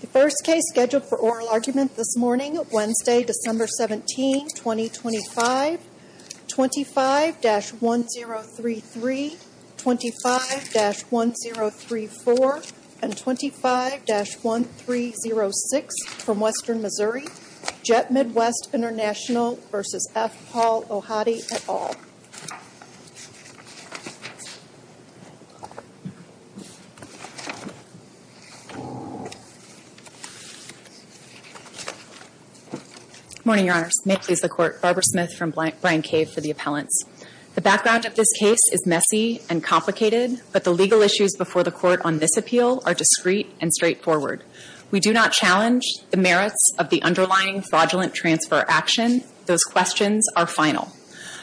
The first case scheduled for oral argument this morning, Wednesday, December 17, 2025, 25-1033, 25-1034, and 25-1306 from Western Missouri, Jet Midwest International v. F. Paul Ohadi, et al. Barbara Smith Morning, Your Honors. May it please the Court, Barbara Smith from Bryan Cave for the Appellants. The background of this case is messy and complicated, but the legal issues before the Court on this appeal are discreet and straightforward. We do not challenge the merits of the underlying fraudulent transfer action. Those questions are final.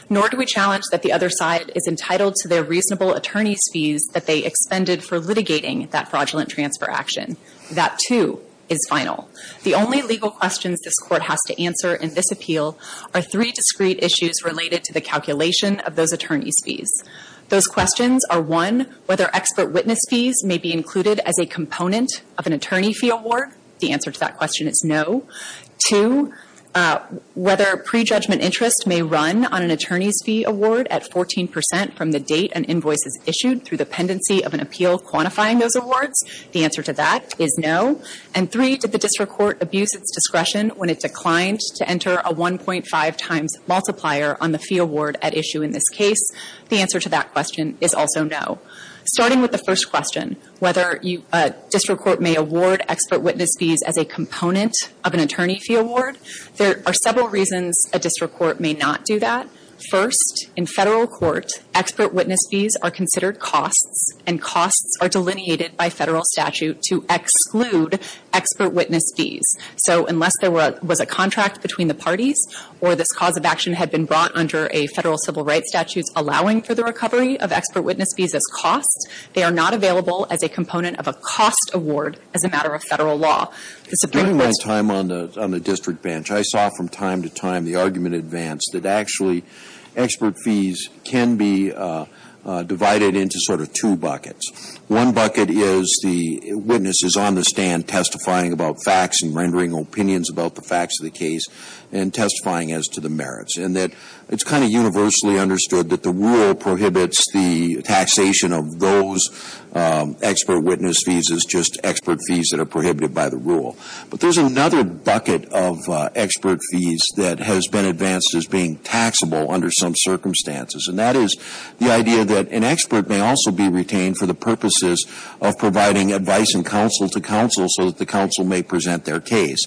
Nor do we challenge that the other side is entitled to their reasonable attorney's fees that they expended for litigating that fraudulent transfer action. That, too, is final. The only legal questions this Court has to answer in this appeal are three discreet issues related to the calculation of those attorney's fees. Those questions are, one, whether expert witness fees may be included as a component of an attorney fee award. The answer to that question is no. Two, whether prejudgment interest may run on an attorney's fee award at 14 percent from the date an invoice is issued through the pendency of an appeal quantifying those awards. The answer to that is no. And three, did the district court abuse its discretion when it declined to enter a 1.5 times multiplier on the fee award at issue in this case? The answer to that question is also no. Starting with the first question, whether a district court may award expert witness fees as a component of an attorney fee award, there are several reasons a district court may not do that. First, in federal court, expert witness fees are considered costs, and costs are delineated by federal statute to exclude expert witness fees. So unless there was a contract between the parties or this cause of action had been brought under a federal civil rights statute allowing for the recovery of expert witness fees as costs, they are not available as a component of a cost award as a matter of federal law. The Supreme Court's ---- Breyer. During my time on the district bench, I saw from time to time the argument advanced that actually expert fees can be divided into sort of two buckets. One bucket is the witness is on the stand testifying about facts and rendering opinions about the facts of the case and testifying as to the merits, and that it's kind of universally understood that the rule prohibits the taxation of those expert witness fees as just expert fees that are prohibited by the rule. But there's another bucket of expert fees that has been advanced as being taxable under some circumstances, and that is the idea that an expert may also be retained for the purposes of providing advice and counsel to counsel so that the counsel may present their case.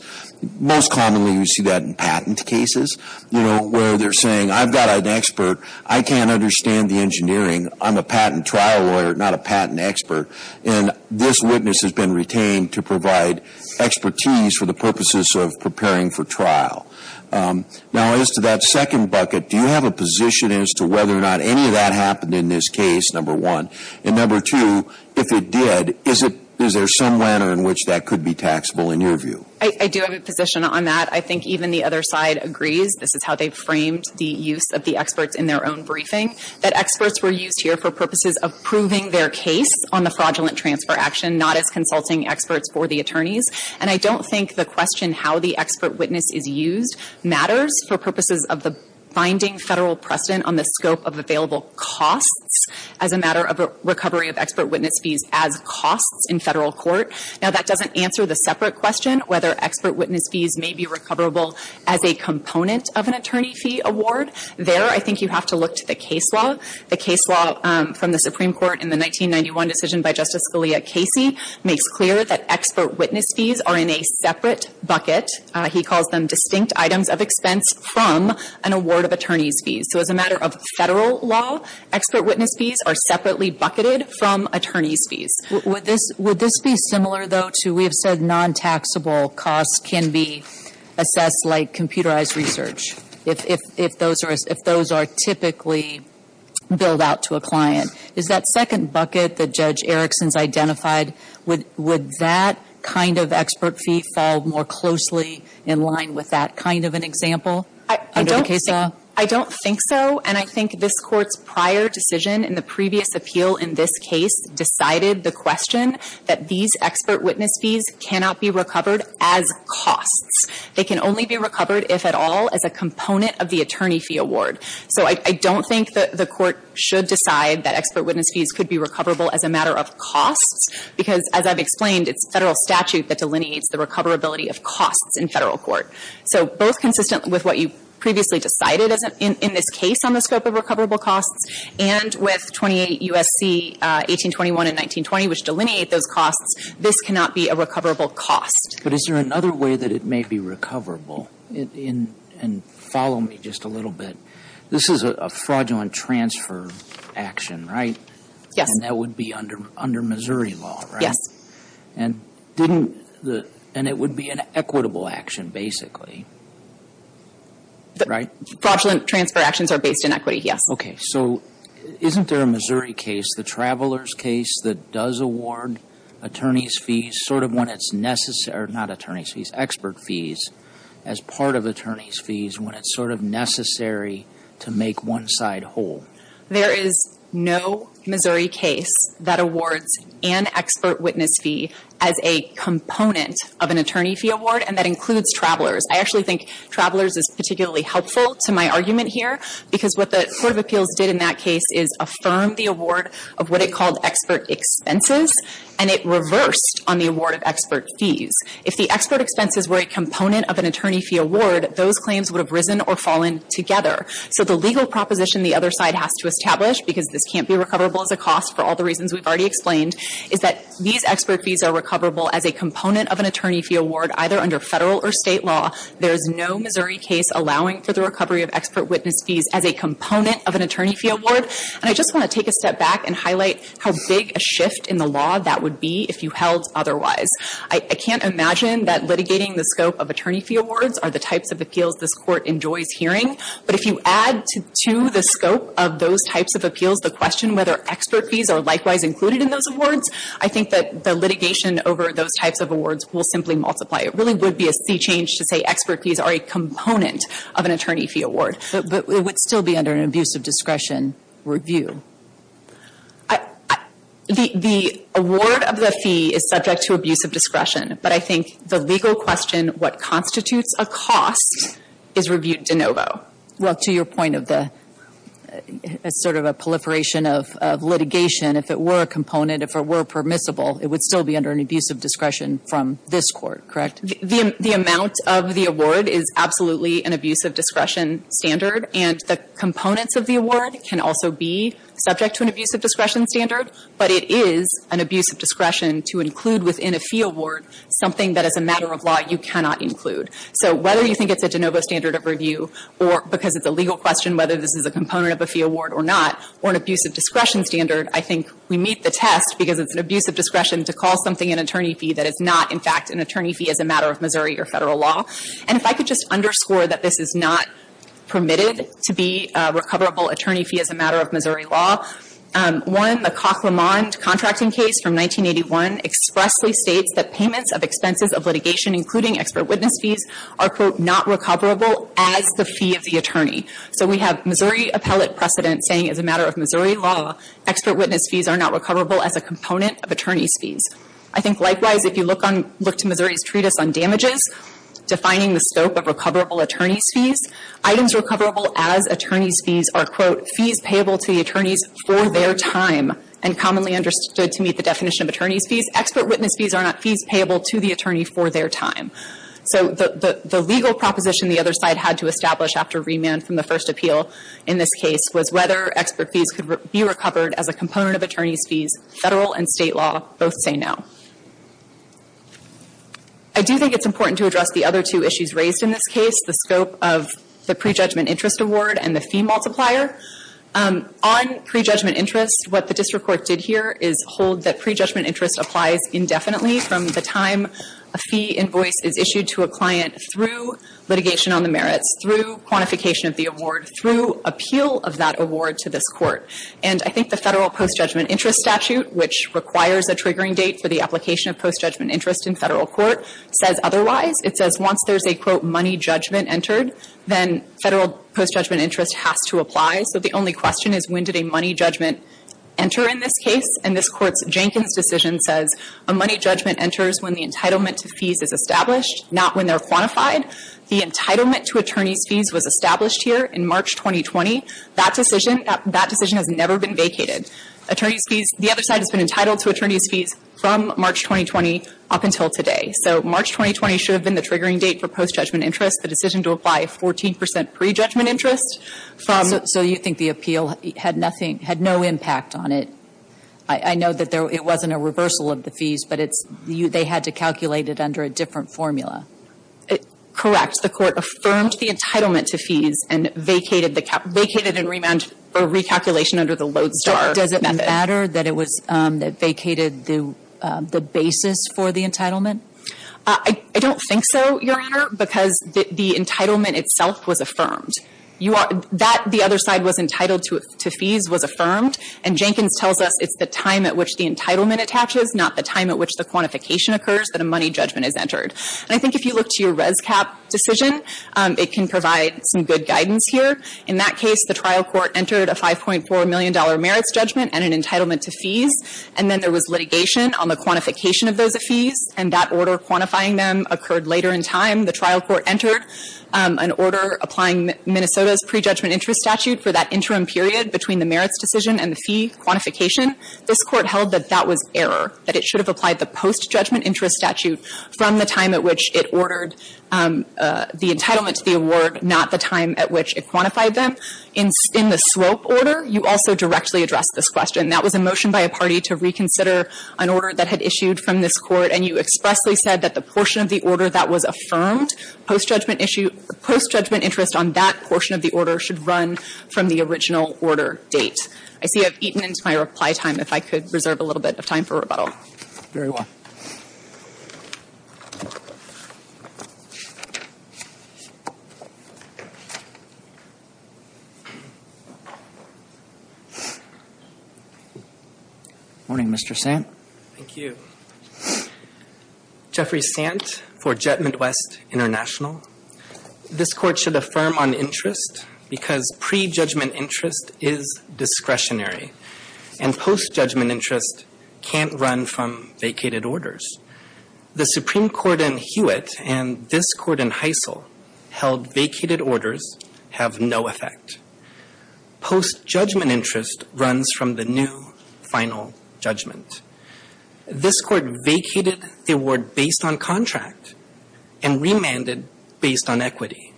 Most commonly, we see that in patent cases, you know, where they're saying, I've got an expert. I can't understand the engineering. I'm a patent trial lawyer, not a patent expert. And this witness has been retained to provide expertise for the purposes of preparing for trial. Now, as to that second bucket, do you have a position as to whether or not any of that happened in this case, number one? And number two, if it did, is there some manner in which that could be taxable in your view? I do have a position on that. I think even the other side agrees. This is how they framed the use of the experts in their own briefing, that experts were used here for purposes of proving their case on the fraudulent transfer action, not as consulting experts for the attorneys. And I don't think the question how the expert witness is used matters for purposes of the finding federal precedent on the scope of available costs as a matter of recovery of expert witness fees as costs in federal court. Now, that doesn't answer the separate question whether expert witness fees may be recoverable as a component of an attorney fee award. There, I think you have to look to the case law. The case law from the Supreme Court in the 1991 decision by Justice Scalia Casey makes clear that expert witness fees are in a separate bucket. He calls them distinct items of expense from an award of attorney's fees. So as a matter of federal law, expert witness fees are separately bucketed from attorney's fees. Would this be similar, though, to we have said non-taxable costs can be assessed like computerized research, if those are typically billed out to a client? Is that second bucket that Judge Erickson's identified, would that kind of expert fee fall more closely in line with that kind of an example? I don't think so. And I think this Court's prior decision in the previous appeal in this case decided the question that these expert witness fees cannot be recovered as costs. They can only be recovered, if at all, as a component of the attorney fee award. So I don't think the Court should decide that expert witness fees could be recoverable as a matter of costs because, as I've explained, it's federal statute that delineates the recoverability of costs in federal court. So both consistent with what you previously decided in this case on the scope of recoverable costs and with 28 U.S.C. 1821 and 1920, which delineate those costs, this cannot be a recoverable cost. But is there another way that it may be recoverable? And follow me just a little bit. This is a fraudulent transfer action, right? Yes. And that would be under Missouri law, right? Yes. And it would be an equitable action, basically, right? Fraudulent transfer actions are based in equity, yes. Okay. So isn't there a Missouri case, the Travelers case, that does award attorney's fees sort of when it's necessary – or not attorney's fees, expert fees – as part of attorney's fees when it's sort of necessary to make one side whole? There is no Missouri case that awards an expert witness fee as a component of an attorney fee award, and that includes Travelers. I actually think Travelers is particularly helpful to my argument here because what the Court of Appeals did in that case is affirm the award of what it called expert expenses, and it reversed on the award of expert fees. If the expert expenses were a component of an attorney fee award, those claims would have risen or fallen together. So the legal proposition the other side has to establish, because this can't be recoverable as a cost for all the reasons we've already explained, is that these expert fees are recoverable as a component of an attorney fee award either under federal or state law. There is no Missouri case allowing for the recovery of expert witness fees as a component of an attorney fee award. And I just want to take a step back and highlight how big a shift in the law that would be if you held otherwise. I can't imagine that litigating the scope of attorney fee awards are the types of appeals this Court enjoys hearing. But if you add to the scope of those types of appeals the question whether expert fees are likewise included in those awards, I think that the litigation over those types of awards will simply multiply. It really would be a sea change to say expert fees are a component of an attorney fee award. But it would still be under an abuse of discretion review. The award of the fee is subject to abuse of discretion. But I think the legal question, what constitutes a cost, is reviewed de novo. Well, to your point of the sort of a proliferation of litigation, if it were a component, if it were permissible, it would still be under an abuse of discretion from this Court, correct? The amount of the award is absolutely an abuse of discretion standard. And the components of the award can also be subject to an abuse of discretion standard. But it is an abuse of discretion to include within a fee award something that as a matter of law you cannot include. So whether you think it's a de novo standard of review or because it's a legal question whether this is a component of a fee award or not, or an abuse of discretion standard, I think we meet the test because it's an abuse of discretion to call something an attorney fee that is not, in fact, an attorney fee as a matter of Missouri or Federal law. And if I could just underscore that this is not permitted to be a recoverable attorney fee as a matter of Missouri law, one, the Cock-Lamond contracting case from 1981 expressly states that payments of expenses of litigation, including expert witness fees, are, quote, not recoverable as the fee of the attorney. So we have Missouri appellate precedent saying as a matter of Missouri law, expert witness fees are not recoverable as a component of attorney's fees. I think, likewise, if you look to Missouri's treatise on damages, defining the scope of recoverable attorney's fees, items recoverable as attorney's fees are, quote, fees payable to the attorneys for their time and commonly understood to meet the definition of attorney's fees. Expert witness fees are not fees payable to the attorney for their time. So the legal proposition the other side had to establish after remand from the first appeal in this case was whether expert fees could be recovered as a component of attorney's fees, Federal and State law both say no. I do think it's important to address the other two issues raised in this case, the scope of the pre-judgment interest award and the fee multiplier. On pre-judgment interest, what the district court did here is hold that pre-judgment interest applies indefinitely from the time a fee invoice is issued to a client through litigation on the merits, through quantification of the award, through appeal of that award to this court. And I think the Federal post-judgment interest statute, which requires a triggering date for the application of post-judgment interest in Federal court, says otherwise. It says once there's a, quote, money judgment entered, then Federal post-judgment interest has to apply. So the only question is when did a money judgment enter in this case? And this Court's Jenkins decision says a money judgment enters when the entitlement to fees is established, not when they're quantified. The entitlement to attorneys' fees was established here in March 2020. That decision, that decision has never been vacated. Attorneys' fees, the other side has been entitled to attorneys' fees from March 2020 up until today. So March 2020 should have been the triggering date for post-judgment interest. The decision to apply 14 percent pre-judgment interest from So you think the appeal had nothing, had no impact on it? I know that there, it wasn't a reversal of the fees, but it's, they had to calculate it under a different formula. Correct. The Court affirmed the entitlement to fees and vacated the, vacated and remount, or recalculation under the Lodestar method. Does it matter that it was, that vacated the basis for the entitlement? I don't think so, Your Honor, because the entitlement itself was affirmed. You are, that, the other side was entitled to fees, was affirmed, and Jenkins tells us it's the time at which the entitlement attaches, not the time at which the quantification occurs that a money judgment is entered. And I think if you look to your ResCap decision, it can provide some good guidance here. In that case, the trial court entered a $5.4 million merits judgment and an entitlement to fees, and then there was litigation on the quantification of those fees, and that order quantifying them occurred later in time. The trial court entered an order applying Minnesota's pre-judgment interest statute for that interim period between the merits decision and the fee quantification. This Court held that that was error, that it should have applied the post-judgment interest statute from the time at which it ordered the entitlement to the award, not the time at which it quantified them. In the slope order, you also directly addressed this question. That was a motion by a party to reconsider an order that had issued from this Court, and you expressly said that the portion of the order that was affirmed, post-judgment interest on that portion of the order should run from the original order date. I see I've eaten into my reply time. If I could reserve a little bit of time for rebuttal. Very well. Morning, Mr. Sant. Thank you. Jeffrey Sant for Jet Midwest International. This Court should affirm on interest because pre-judgment interest is discretionary, and post-judgment interest can't run from vacated orders. The Supreme Court in Hewitt and this Court in Heisel held vacated orders have no effect. Post-judgment interest runs from the new final judgment. This Court vacated the award based on contract and remanded based on equity.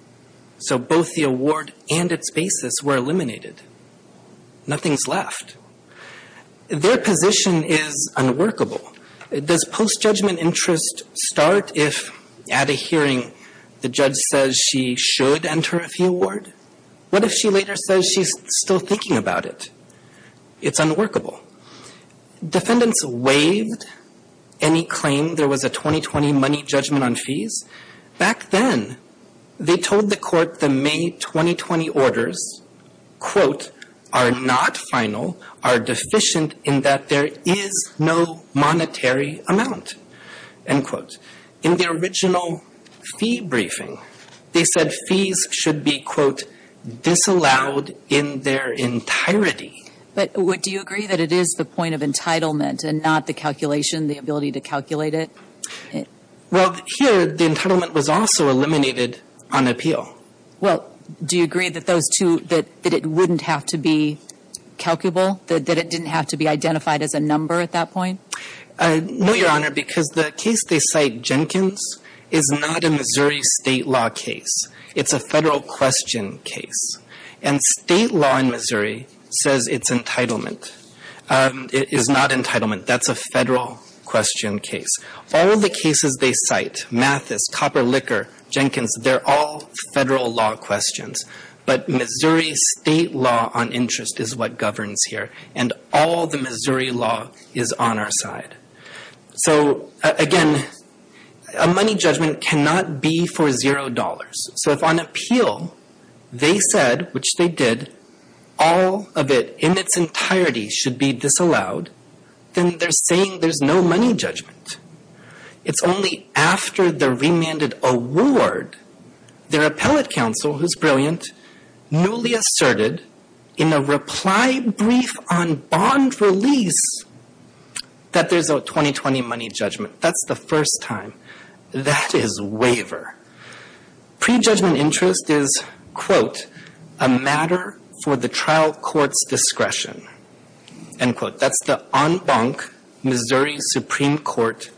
So both the award and its basis were eliminated. Nothing's left. Their position is unworkable. Does post-judgment interest start if at a hearing the judge says she should enter a fee award? What if she later says she's still thinking about it? It's unworkable. Defendants waived any claim there was a 2020 money judgment on fees. Back then, they told the Court the May 2020 orders, quote, are not final, are deficient, in that there is no monetary amount, end quote. In the original fee briefing, they said fees should be, quote, disallowed in their entirety. But do you agree that it is the point of entitlement and not the calculation, the ability to calculate it? Well, here the entitlement was also eliminated on appeal. Well, do you agree that those two, that it wouldn't have to be calculable, that it didn't have to be identified as a number at that point? No, Your Honor, because the case they cite, Jenkins, is not a Missouri state law case. It's a Federal question case. And state law in Missouri says it's entitlement. It is not entitlement. That's a Federal question case. All the cases they cite, Mathis, Copper Liquor, Jenkins, they're all Federal law questions. But Missouri state law on interest is what governs here. And all the Missouri law is on our side. So, again, a money judgment cannot be for $0. So if on appeal they said, which they did, all of it in its entirety should be disallowed, then they're saying there's no money judgment. It's only after the remanded award their appellate counsel, who's brilliant, newly asserted in a reply brief on bond release that there's a 2020 money judgment. That's the first time. That is waiver. Prejudgment interest is, quote, a matter for the trial court's discretion, end quote. That's the en banc Missouri Supreme Court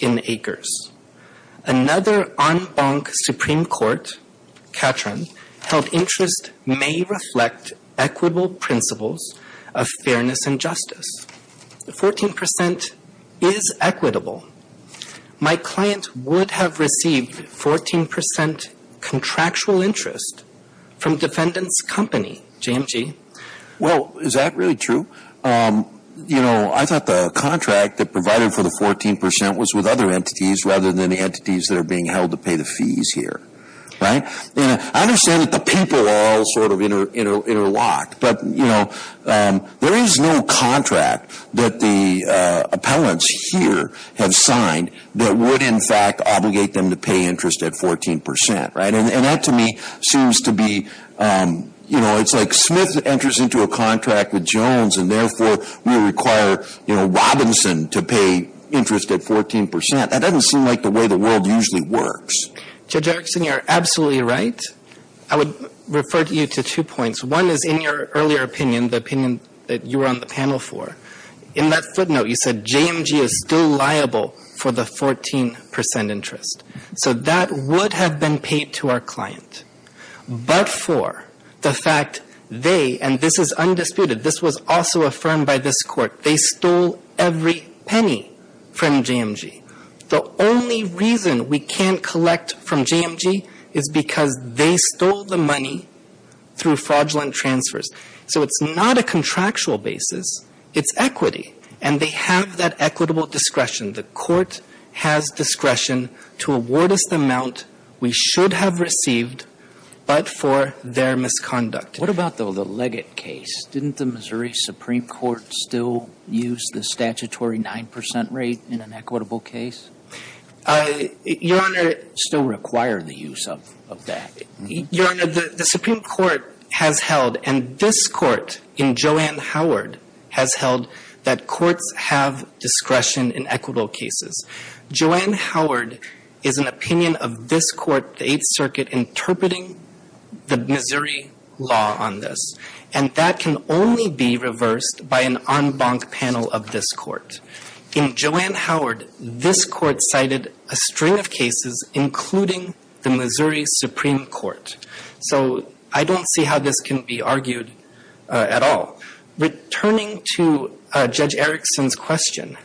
in Acres. Another en banc Supreme Court, Catron, held interest may reflect equitable principles of fairness and justice. 14% is equitable. My client would have received 14% contractual interest from defendant's company, JMG. Well, is that really true? You know, I thought the contract that provided for the 14% was with other entities rather than the entities that are being held to pay the fees here. Right? I understand that the people are all sort of interlocked. But, you know, there is no contract that the appellants here have signed that would, in fact, obligate them to pay interest at 14%. Right? And that, to me, seems to be, you know, it's like Smith enters into a contract with Jones, and therefore we require, you know, Robinson to pay interest at 14%. That doesn't seem like the way the world usually works. Judge Erickson, you're absolutely right. I would refer you to two points. One is in your earlier opinion, the opinion that you were on the panel for, in that footnote you said JMG is still liable for the 14% interest. So that would have been paid to our client. But for the fact they, and this is undisputed, this was also affirmed by this Court, they stole every penny from JMG. The only reason we can't collect from JMG is because they stole the money through fraudulent transfers. So it's not a contractual basis. It's equity. And they have that equitable discretion. The Court has discretion to award us the amount we should have received, but for their misconduct. What about, though, the Leggett case? Didn't the Missouri Supreme Court still use the statutory 9% rate in an equitable case? Your Honor, it still required the use of that. Your Honor, the Supreme Court has held, and this Court in Joanne Howard has held, that courts have discretion in equitable cases. Joanne Howard is an opinion of this Court, the Eighth Circuit, interpreting the Missouri law on this. And that can only be reversed by an en banc panel of this Court. In Joanne Howard, this Court cited a string of cases, including the Missouri Supreme Court. So I don't see how this can be argued at all. Returning to Judge Erickson's question,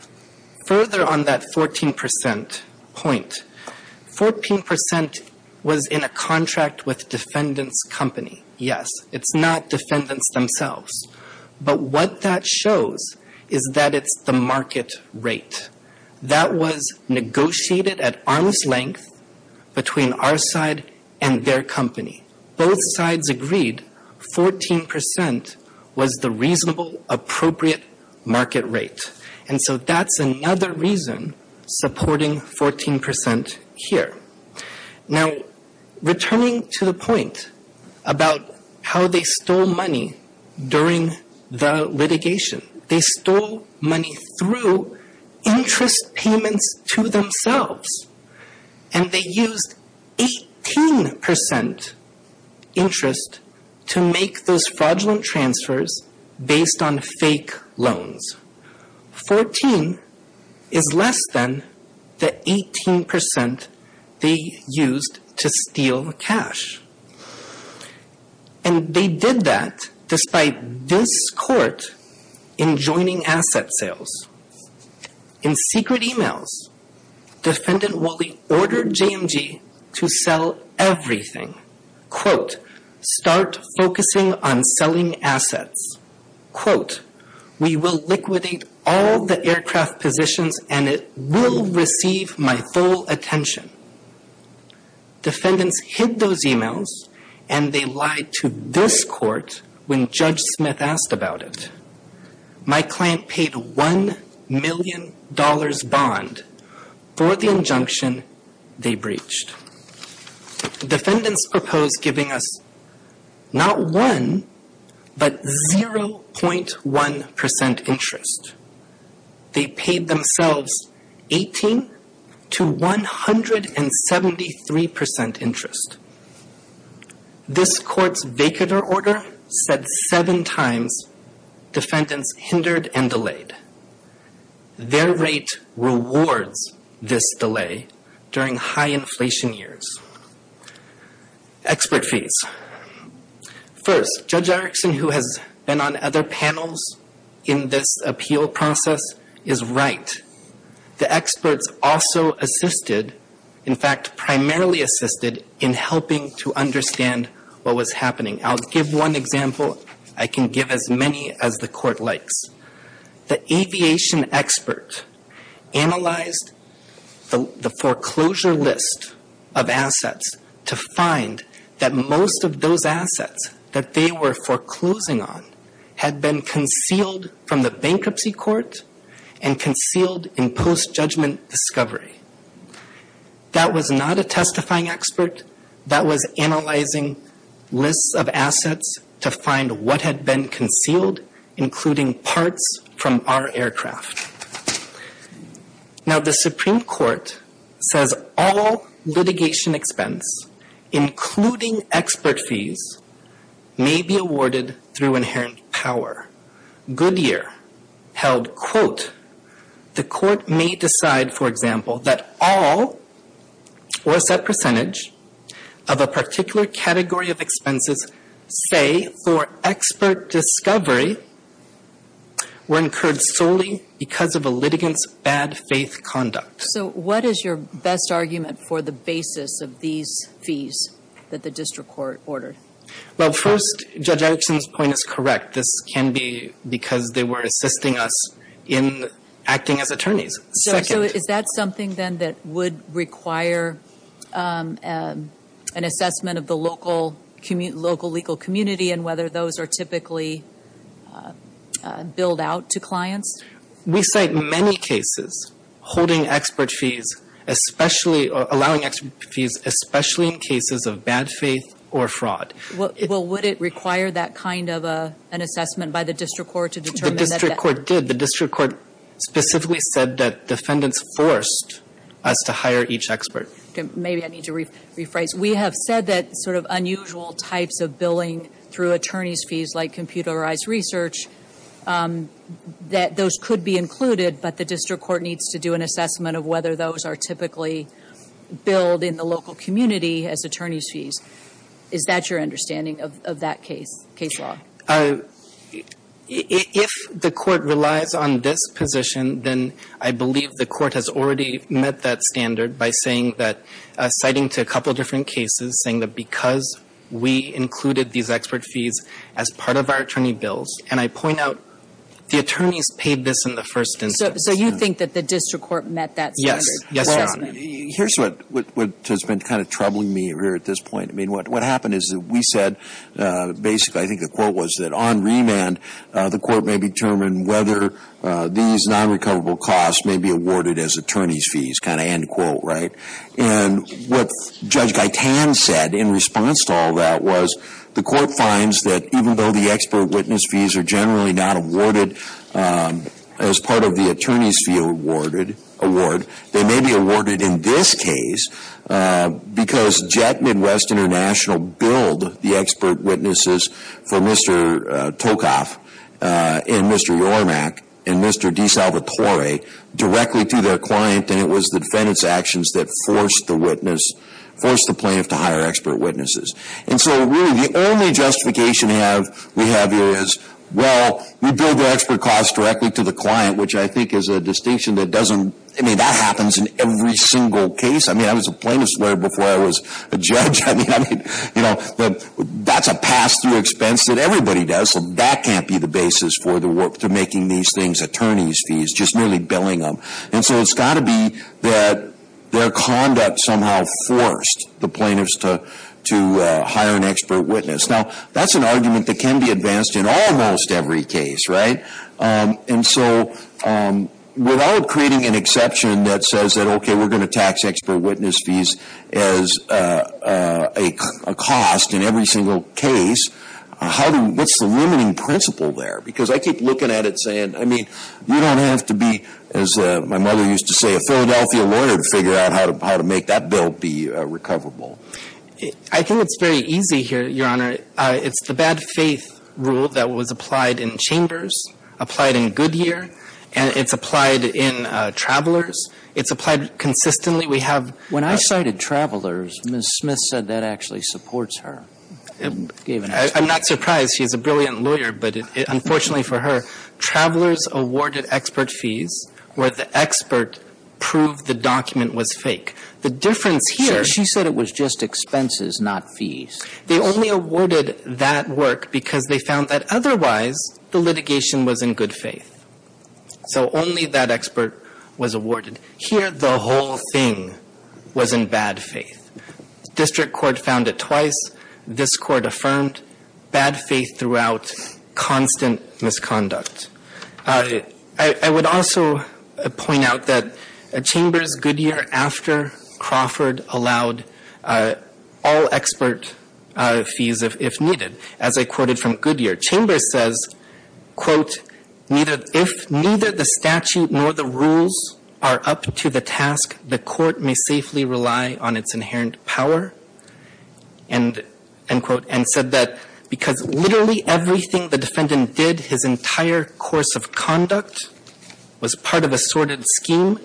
further on that 14% point, 14% was in a contract with defendants' company. Yes. It's not defendants themselves. But what that shows is that it's the market rate. That was negotiated at arm's length between our side and their company. Both sides agreed 14% was the reasonable, appropriate market rate. And so that's another reason supporting 14% here. Now, returning to the point about how they stole money during the litigation. They stole money through interest payments to themselves. And they used 18% interest to make those fraudulent transfers based on fake loans. 14% is less than the 18% they used to steal cash. And they did that despite this Court enjoining asset sales. In secret emails, Defendant Woolley ordered JMG to sell everything. Quote, start focusing on selling assets. Quote, we will liquidate all the aircraft positions and it will receive my full attention. Defendants hid those emails and they lied to this Court when Judge Smith asked about it. My client paid $1 million bond for the injunction they breached. Defendants proposed giving us not one, but 0.1% interest. They paid themselves 18 to 173% interest. This Court's vacant order said seven times defendants hindered and delayed. Their rate rewards this delay during high inflation years. Expert fees. First, Judge Erickson, who has been on other panels in this appeal process, is right. The experts also assisted, in fact primarily assisted, in helping to understand what was happening. I'll give one example. I can give as many as the Court likes. The aviation expert analyzed the foreclosure list of assets to find that most of those assets that they were foreclosing on had been concealed from the bankruptcy court and concealed in post-judgment discovery. That was not a testifying expert. That was analyzing lists of assets to find what had been concealed, including parts from our aircraft. Now the Supreme Court says all litigation expense, including expert fees, may be awarded through inherent power. Goodyear held, quote, the Court may decide, for example, that all or a set percentage of a particular category of expenses, say for expert discovery, were incurred solely because of a litigant's bad faith conduct. So what is your best argument for the basis of these fees that the district court ordered? Well, first, Judge Erickson's point is correct. This can be because they were assisting us in acting as attorneys. So is that something then that would require an assessment of the local legal community and whether those are typically billed out to clients? We cite many cases holding expert fees, especially or allowing expert fees, especially in cases of bad faith or fraud. Well, would it require that kind of an assessment by the district court to determine that? The district court did. The district court specifically said that defendants forced us to hire each expert. Maybe I need to rephrase. We have said that sort of unusual types of billing through attorney's fees, like computerized research, that those could be included, but the district court needs to do an assessment of whether those are typically billed in the local community as attorney's fees. Is that your understanding of that case, case law? If the court relies on this position, then I believe the court has already met that standard by saying that, citing to a couple different cases, saying that because we included these expert fees as part of our attorney bills, and I point out the attorneys paid this in the first instance. So you think that the district court met that standard? Yes, Your Honor. Well, here's what has been kind of troubling me here at this point. I mean, what happened is that we said basically, I think the quote was, that on remand the court may determine whether these non-recoverable costs may be awarded as attorney's fees, kind of end quote, right? And what Judge Gaitan said in response to all that was, the court finds that even though the expert witness fees are generally not awarded as part of the attorney's fee award, they may be awarded in this case because Jet Midwest International billed the expert witnesses for Mr. Tolkoff and Mr. Yormack and Mr. DeSalvatore directly to their client, and it was the defendant's actions that forced the plaintiff to hire expert witnesses. And so really the only justification we have here is, well, we billed the expert costs directly to the client, which I think is a distinction that doesn't, I mean, that happens in every single case. I mean, I was a plaintiff's lawyer before I was a judge. I mean, that's a pass-through expense that everybody does, so that can't be the basis for making these things attorney's fees, just merely billing them. And so it's got to be that their conduct somehow forced the plaintiffs to hire an expert witness. Now, that's an argument that can be advanced in almost every case, right? And so without creating an exception that says that, okay, we're going to tax expert witness fees as a cost in every single case, what's the limiting principle there? Because I keep looking at it saying, I mean, you don't have to be, as my mother used to say, a Philadelphia lawyer to figure out how to make that bill be recoverable. I think it's very easy here, Your Honor. It's the bad faith rule that was applied in Chambers, applied in Goodyear, and it's applied in Travelers. It's applied consistently. When I cited Travelers, Ms. Smith said that actually supports her. I'm not surprised. She's a brilliant lawyer, but unfortunately for her, Travelers awarded expert fees where the expert proved the document was fake. The difference here — Sure. She said it was just expenses, not fees. They only awarded that work because they found that otherwise the litigation was in good faith. So only that expert was awarded. Here, the whole thing was in bad faith. District court found it twice. This court affirmed bad faith throughout constant misconduct. I would also point out that Chambers, Goodyear, after Crawford, allowed all expert fees if needed. As I quoted from Goodyear, Chambers says, quote, if neither the statute nor the rules are up to the task, the court may safely rely on its inherent power, end quote, and said that because literally everything the defendant did, his entire course of conduct, was part of a sorted scheme,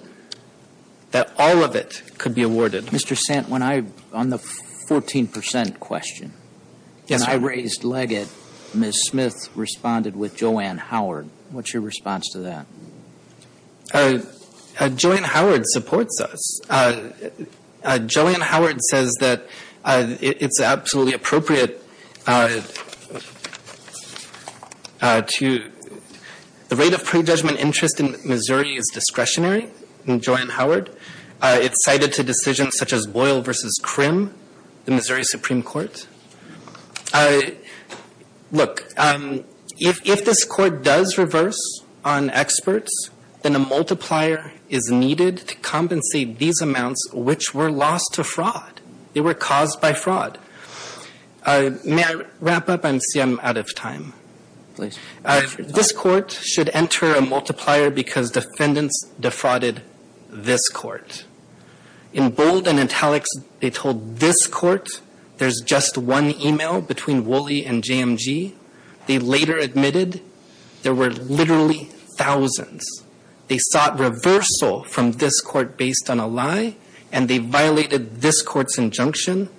that all of it could be awarded. Mr. Sant, on the 14 percent question, when I raised Leggett, Ms. Smith responded with Joanne Howard. What's your response to that? Joanne Howard supports us. Joanne Howard says that it's absolutely appropriate to — the rate of prejudgment interest in Missouri is discretionary in Joanne Howard. It's cited to decisions such as Boyle v. Krim, the Missouri Supreme Court. Look, if this court does reverse on experts, then a multiplier is needed to compensate these amounts, which were lost to fraud. They were caused by fraud. May I wrap up? I see I'm out of time. This court should enter a multiplier because defendants defrauded this court. In bold and italics, they told this court there's just one e-mail between Woolley and JMG. They later admitted there were literally thousands. They sought reversal from this court based on a lie, and they violated this court's injunction.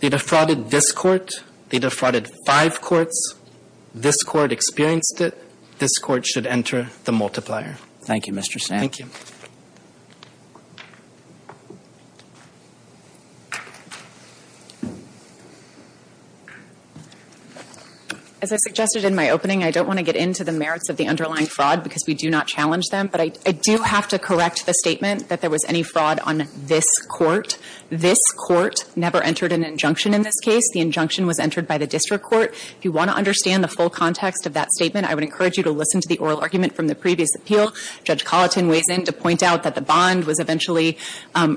They defrauded this court. They defrauded five courts. This court experienced it. This court should enter the multiplier. Thank you, Mr. Sam. Thank you. As I suggested in my opening, I don't want to get into the merits of the underlying fraud because we do not challenge them, but I do have to correct the statement that there was any fraud on this court. This court never entered an injunction in this case. The injunction was entered by the district court. If you want to understand the full context of that statement, I would encourage you to listen to the oral argument from the previous appeal. Judge Colleton weighs in to point out that the bond was eventually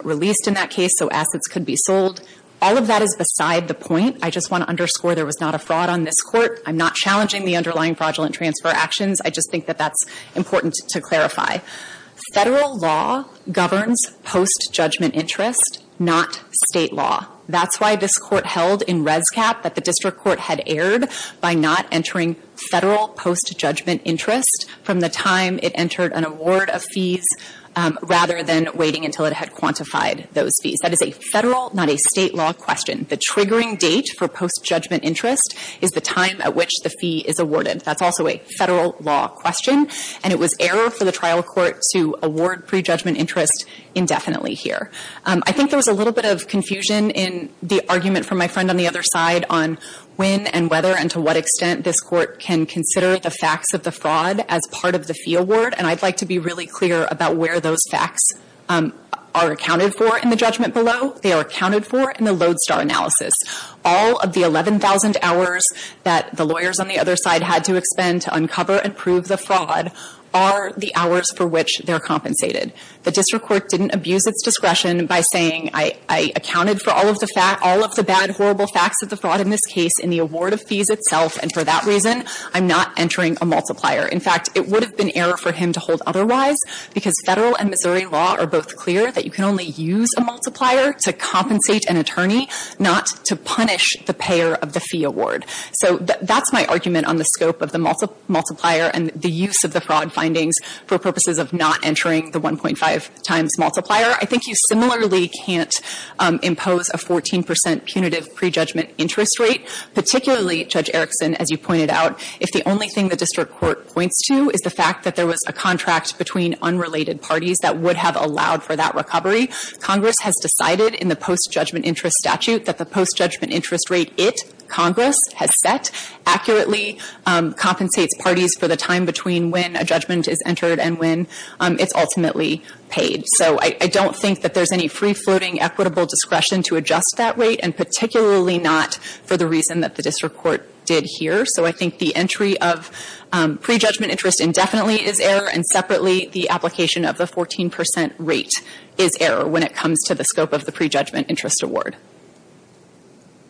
released in that case, so assets could be sold. All of that is beside the point. I just want to underscore there was not a fraud on this court. I'm not challenging the underlying fraudulent transfer actions. I just think that that's important to clarify. Federal law governs post-judgment interest, not State law. That's why this court held in Res Cap that the district court had erred by not entering Federal post-judgment interest from the time it entered an award of fees, rather than waiting until it had quantified those fees. That is a Federal, not a State, law question. The triggering date for post-judgment interest is the time at which the fee is awarded. That's also a Federal law question. And it was error for the trial court to award pre-judgment interest indefinitely here. I think there was a little bit of confusion in the argument from my friend on the other side on when and whether and to what extent this court can consider the facts of the fraud as part of the fee award. And I'd like to be really clear about where those facts are accounted for in the judgment below. They are accounted for in the Lodestar analysis. All of the 11,000 hours that the lawyers on the other side had to expend to uncover and prove the fraud are the hours for which they're compensated. The district court didn't abuse its discretion by saying, I accounted for all of the bad, horrible facts of the fraud in this case in the award of fees itself, and for that reason, I'm not entering a multiplier. In fact, it would have been error for him to hold otherwise, because Federal and Missouri law are both clear that you can only use a multiplier to compensate an attorney, not to punish the payer of the fee award. So that's my argument on the scope of the multiplier and the use of the fraud findings for purposes of not entering the 1.5 times multiplier. I think you similarly can't impose a 14 percent punitive pre-judgment interest rate, particularly, Judge Erickson, as you pointed out, if the only thing the district court points to is the fact that there was a contract between unrelated parties that would have allowed for that recovery. Congress has decided in the post-judgment interest statute that the post-judgment interest rate it, Congress, has set accurately compensates parties for the time between when a judgment is entered and when it's ultimately paid. So I don't think that there's any free-floating equitable discretion to adjust that rate, and particularly not for the reason that the district court did here. So I think the entry of pre-judgment interest indefinitely is error, and separately the application of the 14 percent rate is error when it comes to the scope of the pre-judgment interest award.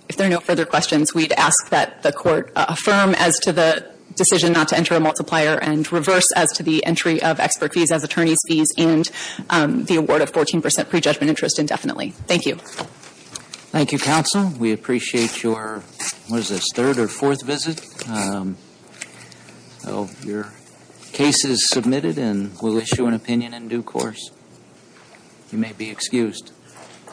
If there are no further questions, we'd ask that the Court affirm as to the decision not to enter a multiplier and reverse as to the entry of expert fees as attorney's fees and the award of 14 percent pre-judgment interest indefinitely. Thank you. Thank you, Counsel. We appreciate your, what is this, third or fourth visit. So your case is submitted and we'll issue an opinion in due course. You may be excused.